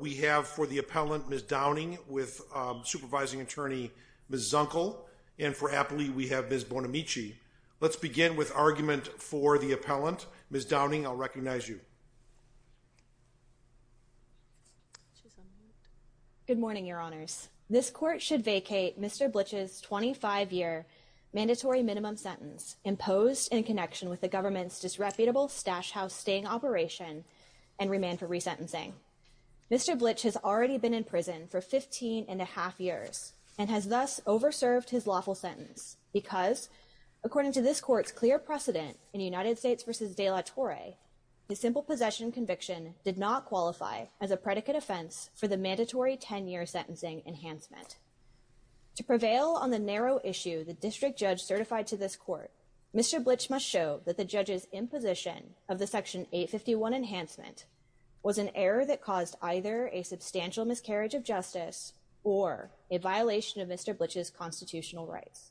We have for the appellant, Ms. Downing, with Supervising Attorney Ms. Zunkel, and for Apley, we have Ms. Bonamici. Let's begin with argument for the appellant. Ms. Downing, I'll recognize you. Good morning, Your Honors. This court should vacate Mr. Blitch's 25-year mandatory minimum sentence imposed in connection with the government's disreputable stash-house staying operation and remand for resentencing. Mr. Blitch has already been in prison for 15 and a half years and has thus over-served his lawful sentence because, according to this court's clear precedent in United States v. De La Torre, his simple possession conviction did not qualify as a predicate offense for the mandatory 10-year sentencing enhancement. To prevail on the narrow issue the district judge certified to this court, Mr. Blitch must show that the judge's imposition of the Section 851 enhancement was an error that caused either a substantial miscarriage of justice or a violation of Mr. Blitch's constitutional rights.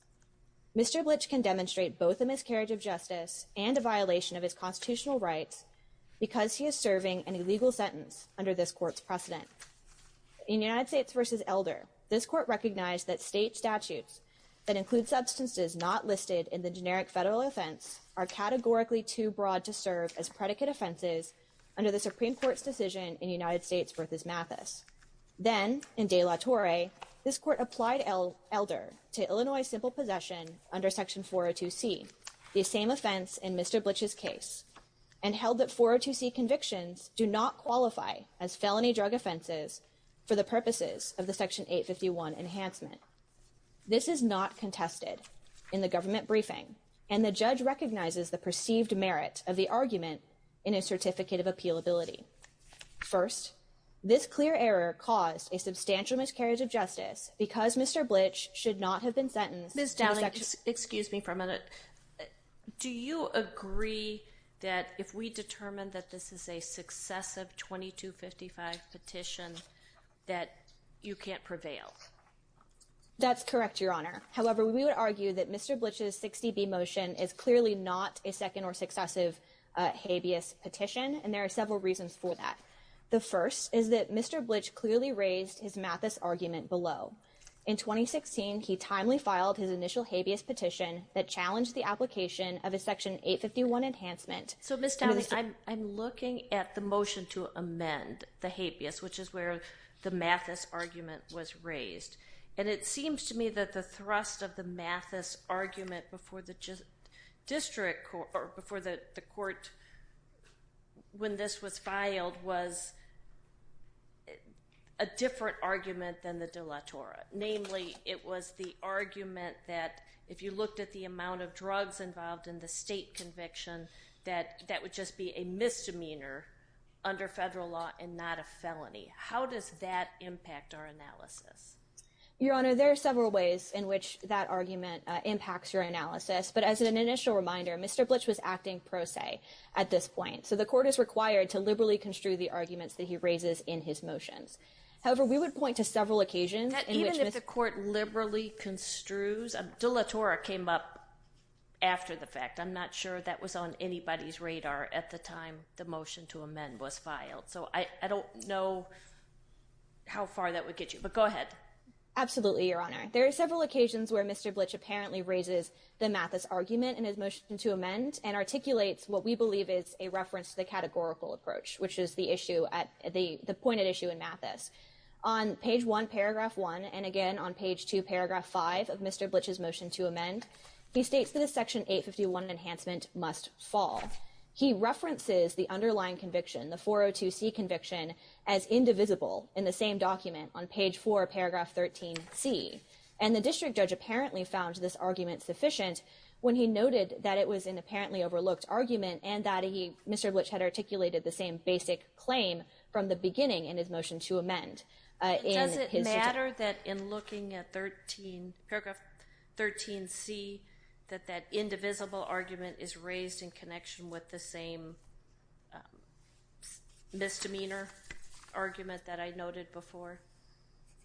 Mr. Blitch can demonstrate both a miscarriage of justice and a violation of his constitutional rights because he is serving an illegal sentence under this court's precedent. In United States v. Elder, this court recognized that state statutes that include substances not listed in the generic federal offense are categorically too broad to serve as predicate offenses under the Supreme Court's decision in United States v. Mathis. Then, in De La Torre, this court applied Elder to Illinois simple possession under Section 402c, the same offense in Mr. Blitch's case, and held that 402c convictions do not qualify as felony drug offenses for the purposes of the Section 851 enhancement. This is not contested in the government briefing, and the judge recognizes the perceived merit of the argument in his certificate of appealability. First, this clear error caused a substantial miscarriage of justice because Mr. Blitch should not have been sentenced to a section— Ms. Downing, excuse me for a minute. Do you agree that if we determine that this is a successive 2255 petition that you can't prevail? That's correct, Your Honor. However, we would argue that Mr. Blitch's 60B motion is clearly not a second or successive habeas petition, and there are several reasons for that. The first is that Mr. Blitch clearly raised his Mathis argument below. In 2016, he timely filed his initial habeas petition that challenged the application of a Section 851 enhancement. So, Ms. Downing, I'm looking at the motion to amend the habeas, which is where the Mathis argument was raised, and it seems to me that the thrust of the Mathis argument before the court when this was filed was a different argument than the de la Torre. Namely, it was the argument that if you looked at the amount of drugs involved in the state conviction, that that would just be a misdemeanor under federal law and not a felony. How does that impact our analysis? Your Honor, there are several ways in which that argument impacts your analysis, but as an initial reminder, Mr. Blitch was acting pro se at this point, so the court is required to liberally construe the arguments that he raises in his motions. However, we would point to several occasions in which Mr. Blitch… Even if the court liberally construes? De la Torre came up after the fact. I'm not sure that was on anybody's radar at the time the motion to amend was filed, so I don't know how far that would get you, but go ahead. Absolutely, Your Honor. There are several occasions where Mr. Blitch apparently raises the Mathis argument in his motion to amend and articulates what we believe is a reference to the categorical approach, which is the point at issue in Mathis. On page 1, paragraph 1, and again on page 2, paragraph 5 of Mr. Blitch's motion to amend, he states that a section 851 enhancement must fall. He references the underlying conviction, the 402C conviction, as indivisible in the same document on page 4, paragraph 13C, and the district judge apparently found this argument sufficient when he noted that it was an apparently overlooked argument and that Mr. Blitch had articulated the same basic claim from the beginning in his motion to amend. Does it matter that in looking at paragraph 13C that that indivisible argument is raised in connection with the same misdemeanor argument that I noted before?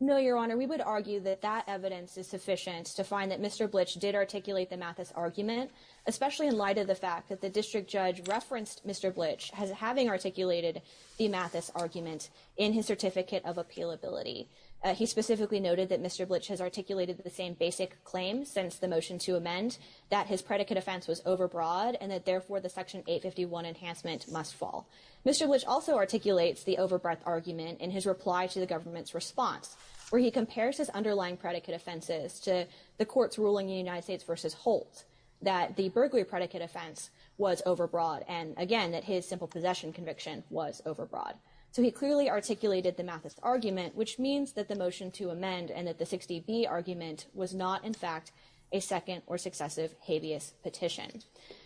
No, Your Honor. We would argue that that evidence is sufficient to find that Mr. Blitch did articulate the Mathis argument, especially in light of the fact that the district judge referenced Mr. Blitch as having articulated the Mathis argument in his certificate of appealability. He specifically noted that Mr. Blitch has articulated the same basic claim since the motion to amend, that his predicate offense was overbroad and that therefore the section 851 enhancement must fall. Mr. Blitch also articulates the overbreadth argument in his reply to the government's response where he compares his underlying predicate offenses to the court's ruling in United States v. Holt that the burglary predicate offense was overbroad and, again, that his simple possession conviction was overbroad. So he clearly articulated the Mathis argument, which means that the motion to amend and that the 60B argument was not, in fact, a second or successive habeas petition.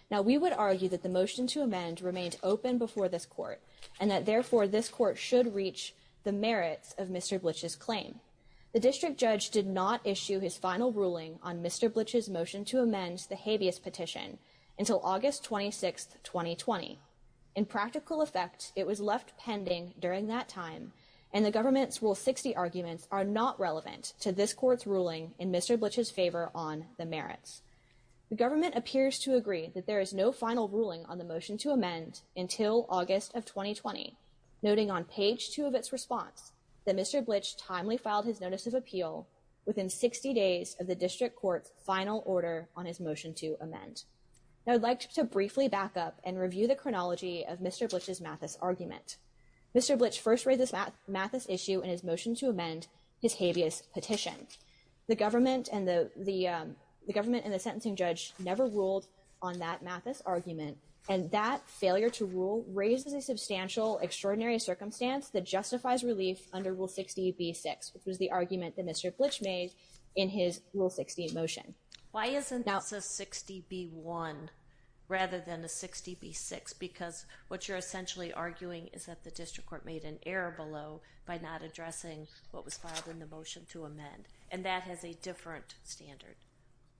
Now, we would argue that the motion to amend remained open before this court and that, therefore, this court should reach the merits of Mr. Blitch's claim. The district judge did not issue his final ruling on Mr. Blitch's motion to amend the habeas petition until August 26, 2020. In practical effect, it was left pending during that time, and the government's Rule 60 arguments are not relevant to this court's ruling in Mr. Blitch's favor on the merits. The government appears to agree that there is no final ruling on the motion to amend until August of 2020, noting on page two of its response that Mr. Blitch timely filed his notice of appeal within 60 days of the district court's final order on his motion to amend. Now, I'd like to briefly back up and review the chronology of Mr. Blitch's Mathis argument. Mr. Blitch first raised this Mathis issue in his motion to amend his habeas petition. The government and the sentencing judge never ruled on that Mathis argument, and that failure to rule raises a substantial, extraordinary circumstance that justifies relief under Rule 60B-6, which was the argument that Mr. Blitch made in his Rule 60 motion. Why isn't this a 60B-1 rather than a 60B-6? Because what you're essentially arguing is that the district court made an error below by not addressing what was filed in the motion to amend, and that has a different standard.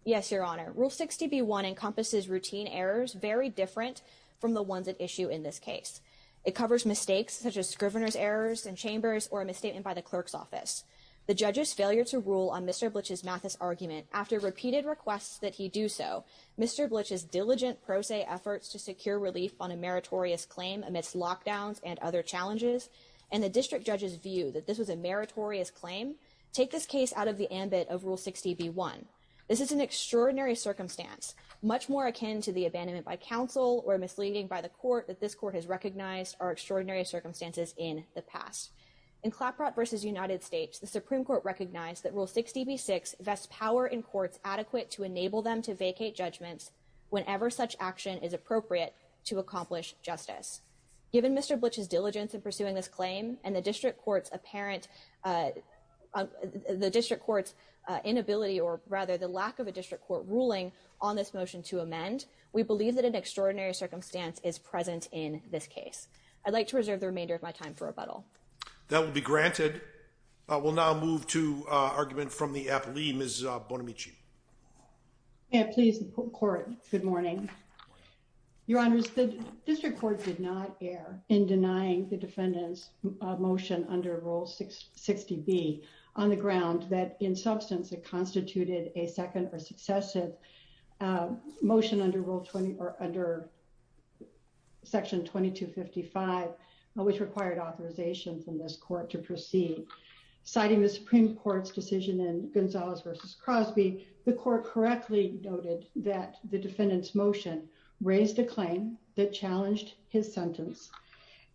Yes, Your Honor. Rule 60B-1 encompasses routine errors very different from the ones at issue in this case. It covers mistakes such as Scrivener's errors in chambers or a misstatement by the clerk's office. The judge's failure to rule on Mr. Blitch's Mathis argument after repeated requests that he do so, Mr. Blitch's diligent pro se efforts to secure relief on a meritorious claim amidst lockdowns and other challenges, and the district judge's view that this was a meritorious claim take this case out of the ambit of Rule 60B-1. This is an extraordinary circumstance, much more akin to the abandonment by counsel or misleading by the court that this court has recognized are extraordinary circumstances in the past. In Claprot v. United States, the Supreme Court recognized that Rule 60B-6 vests power in courts adequate to enable them to vacate judgments whenever such action is appropriate to accomplish justice. Given Mr. Blitch's diligence in pursuing this claim and the district court's apparent, the district court's inability or rather the lack of a district court ruling on this motion to amend, we believe that an extraordinary circumstance is present in this case. I'd like to reserve the remainder of my time for rebuttal. That will be granted. We'll now move to argument from the app. Lee, Ms. Bonamici. Yeah, please. Court. Good morning, Your Honors. The district court did not err in denying the defendant's motion under Rule 60B on the ground that in substance, it constituted a second or successive motion under Section 2255, which required authorization from this court to proceed. Citing the Supreme Court's decision in Gonzalez v. Crosby, the court correctly noted that the defendant's motion raised a claim that challenged his sentence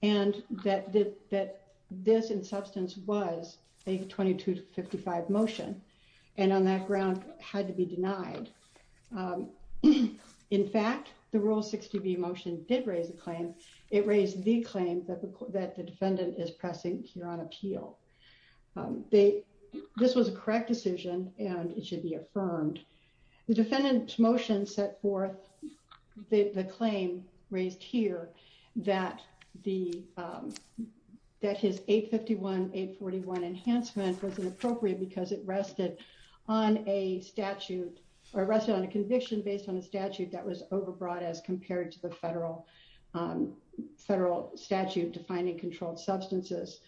and that this in substance was a 2255 motion and on that ground had to be denied. In fact, the Rule 60B motion did raise a claim. It raised the claim that the defendant is pressing here on appeal. This was a correct decision and it should be affirmed. The defendant's motion set forth the claim raised here that his 851-841 enhancement wasn't appropriate because it rested on a statute, or rested on a conviction based on a statute that was overbrought as compared to the federal statute defining controlled substances.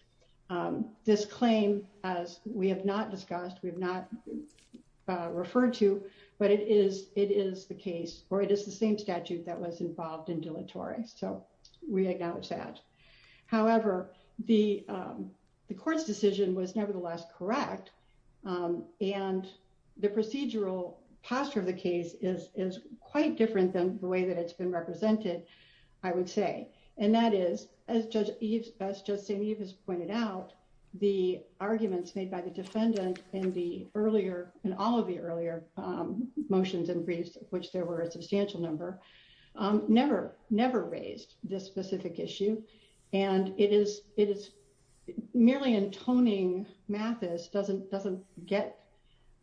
This claim, as we have not discussed, we have not referred to, but it is the case, or it is the same statute that was involved in deletory. So we acknowledge that. However, the court's decision was nevertheless correct, and the procedural posture of the case is quite different than the way that it's been represented, I would say. And that is, as Judge St. Eve has pointed out, the arguments made by the defendant in all of the earlier motions and briefs, which there were a substantial number, never raised this specific issue. And merely intoning Mathis doesn't get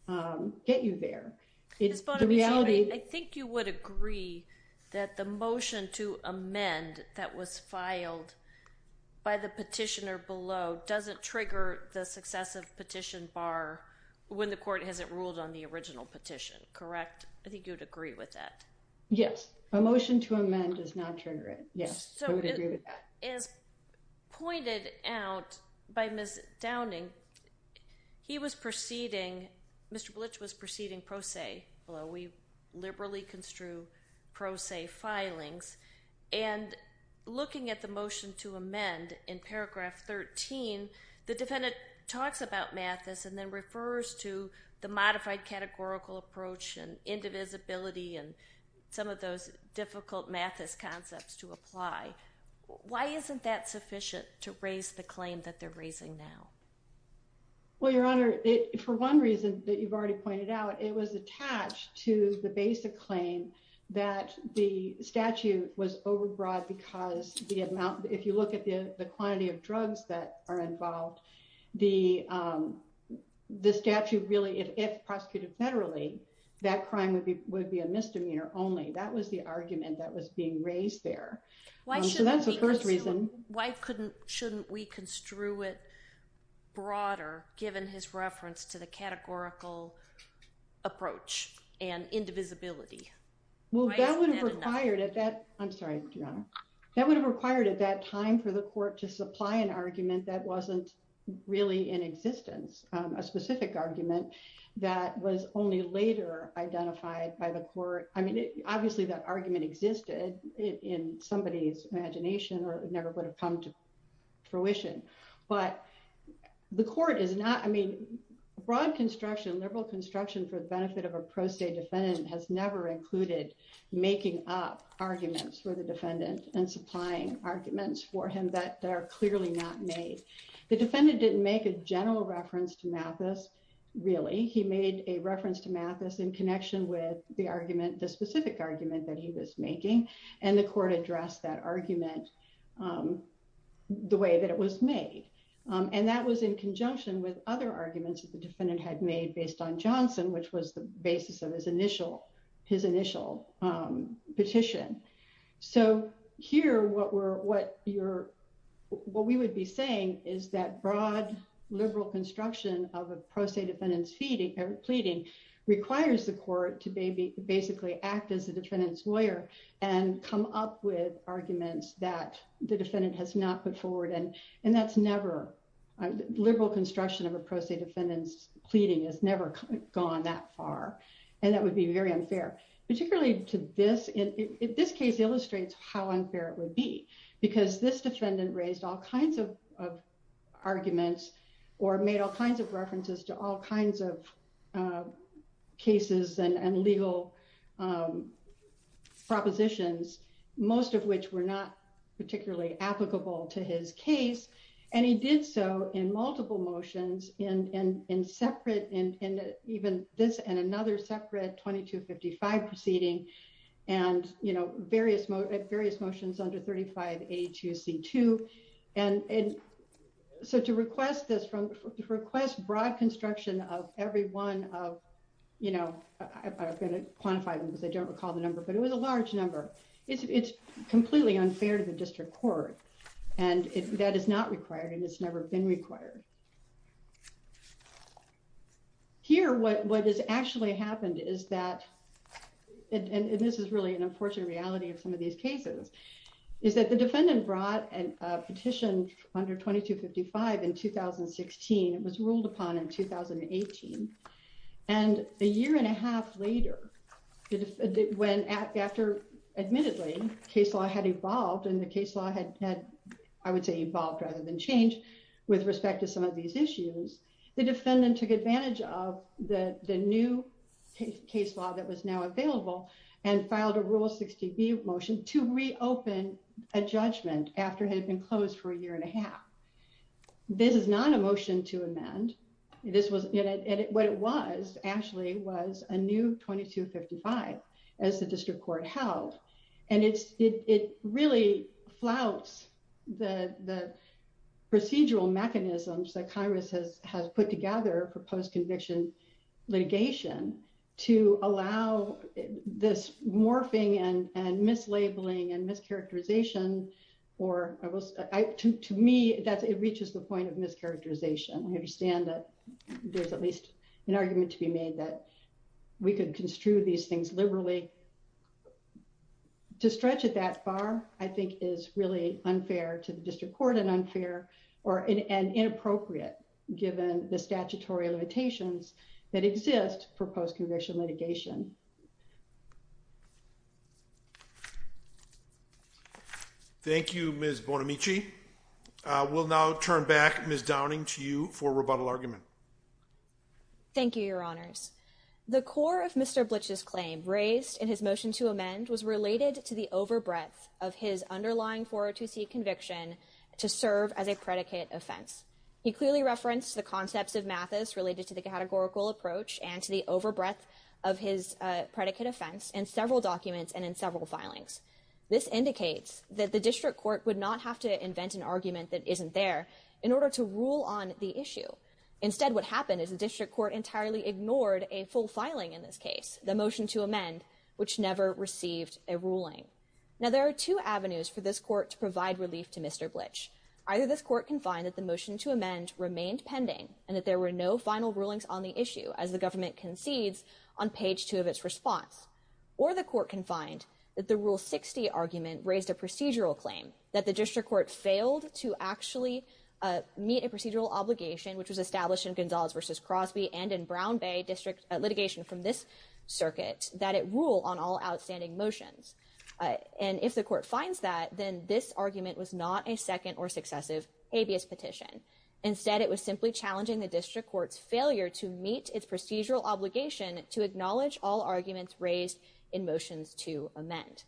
you there. Ms. Bonamici, I think you would agree that the motion to amend that was filed by the petitioner below doesn't trigger the successive petition bar when the court hasn't ruled on the original petition, correct? I think you would agree with that. Yes, a motion to amend does not trigger it. Yes, I would agree with that. As pointed out by Ms. Downing, he was proceeding, Mr. Blitch was proceeding pro se, although we liberally construe pro se filings. And looking at the motion to amend in paragraph 13, the defendant talks about Mathis and then refers to the modified categorical approach and indivisibility and some of those difficult Mathis concepts to apply. Why isn't that sufficient to raise the claim that they're raising now? Well, Your Honor, for one reason that you've already pointed out, it was attached to the basic claim that the statute was overbroad because if you look at the quantity of drugs that are involved, the statute really, if prosecuted federally, that crime would be a misdemeanor only. That was the argument that was being raised there. So that's the first reason. Why shouldn't we construe it broader, given his reference to the categorical approach and indivisibility? Well, that would have required at that, I'm sorry, Your Honor, that would have required at that time for the court to supply an argument that wasn't really in existence, a specific argument that was only later identified by the court. I mean, obviously that argument existed in somebody's imagination or never would have come to fruition. But the court is not, I mean, broad construction, liberal construction for the benefit of a pro se defendant has never included making up arguments for the defendant and supplying arguments for him that are clearly not made. The defendant didn't make a general reference to Mathis, really. He made a reference to Mathis in connection with the argument, the specific argument that he was making, and the court addressed that argument the way that it was made. And that was in conjunction with other arguments that the defendant had made based on Johnson, which was the basis of his initial petition. So here, what we would be saying is that broad liberal construction of a pro se defendant's pleading requires the court to basically act as a defendant's lawyer and come up with arguments that the defendant has not put forward. And that's never, liberal construction of a pro se defendant's pleading has never gone that far. And that would be very unfair, particularly to this. This case illustrates how unfair it would be, because this defendant raised all kinds of arguments, or made all kinds of references to all kinds of cases and legal propositions, most of which were not particularly applicable to his case. And he did so in multiple motions, in separate, in even this and another separate 2255 proceeding, and various motions under 35A2C2. And so to request this, to request broad construction of every one of, you know, I'm going to quantify them because I don't recall the number, but it was a large number. It's completely unfair to the district court. And that is not required and it's never been required. Here, what has actually happened is that, and this is really an unfortunate reality of some of these cases, is that the defendant brought a petition under 2255 in 2016, it was ruled upon in 2018. And a year and a half later, when after, admittedly, case law had evolved and the case law had, I would say evolved rather than changed, with respect to some of these issues, the defendant took advantage of the new case law that was now available and filed a Rule 60B motion to reopen a judgment after it had been closed for a year and a half. This is not a motion to amend. This was, what it was actually was a new 2255, as the district court held. And it really flouts the procedural mechanisms that Congress has put together for post-conviction litigation to allow this morphing and mislabeling and mischaracterization or, to me, it reaches the point of mischaracterization. We understand that there's at least an argument to be made that we could construe these things liberally. To stretch it that far, I think, is really unfair to the district court and unfair and inappropriate, given the statutory limitations that exist for post-conviction litigation. Thank you, Ms. Bonamici. We'll now turn back, Ms. Downing, to you for rebuttal argument. Thank you, Your Honors. The core of Mr. Blitch's claim raised in his motion to amend was related to the overbreadth of his underlying 402C conviction to serve as a predicate offense. He clearly referenced the concepts of Mathis related to the categorical approach and to the overbreadth of his conviction to serve as a predicate offense. In several documents and in several filings, this indicates that the district court would not have to invent an argument that isn't there in order to rule on the issue. Instead, what happened is the district court entirely ignored a full filing in this case, the motion to amend, which never received a ruling. Now, there are two avenues for this court to provide relief to Mr. Blitch. Either this court can find that the motion to amend remained pending and that there were no final rulings on the issue, as the government concedes on page two of its response. Or the court can find that the Rule 60 argument raised a procedural claim, that the district court failed to actually meet a procedural obligation, which was established in Gonzales v. Crosby and in Brown Bay district litigation from this circuit, that it rule on all outstanding motions. And if the court finds that, then this argument was not a second or successive habeas petition. Instead, it was simply challenging the district court's failure to meet its procedural obligation to acknowledge all arguments raised in motions to amend.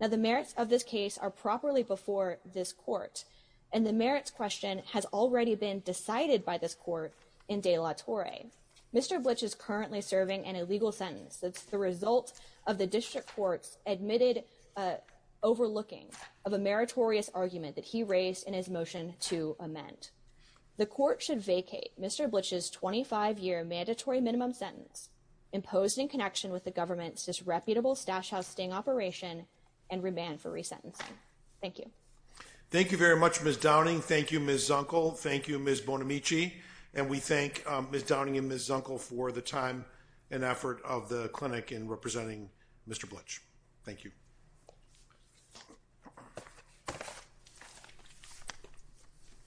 Now, the merits of this case are properly before this court, and the merits question has already been decided by this court in De La Torre. Mr. Blitch is currently serving an illegal sentence that's the result of the district court's admitted overlooking of a meritorious argument that he raised in his motion to amend. The court should vacate Mr. Blitch's 25-year mandatory minimum sentence imposed in connection with the government's disreputable stash house sting operation and remand for resentencing. Thank you. Thank you very much, Ms. Downing. Thank you, Ms. Zunkel. Thank you, Ms. Bonamici. And we thank Ms. Downing and Ms. Zunkel for the time and effort of the clinic in representing Mr. Blitch. Thank you.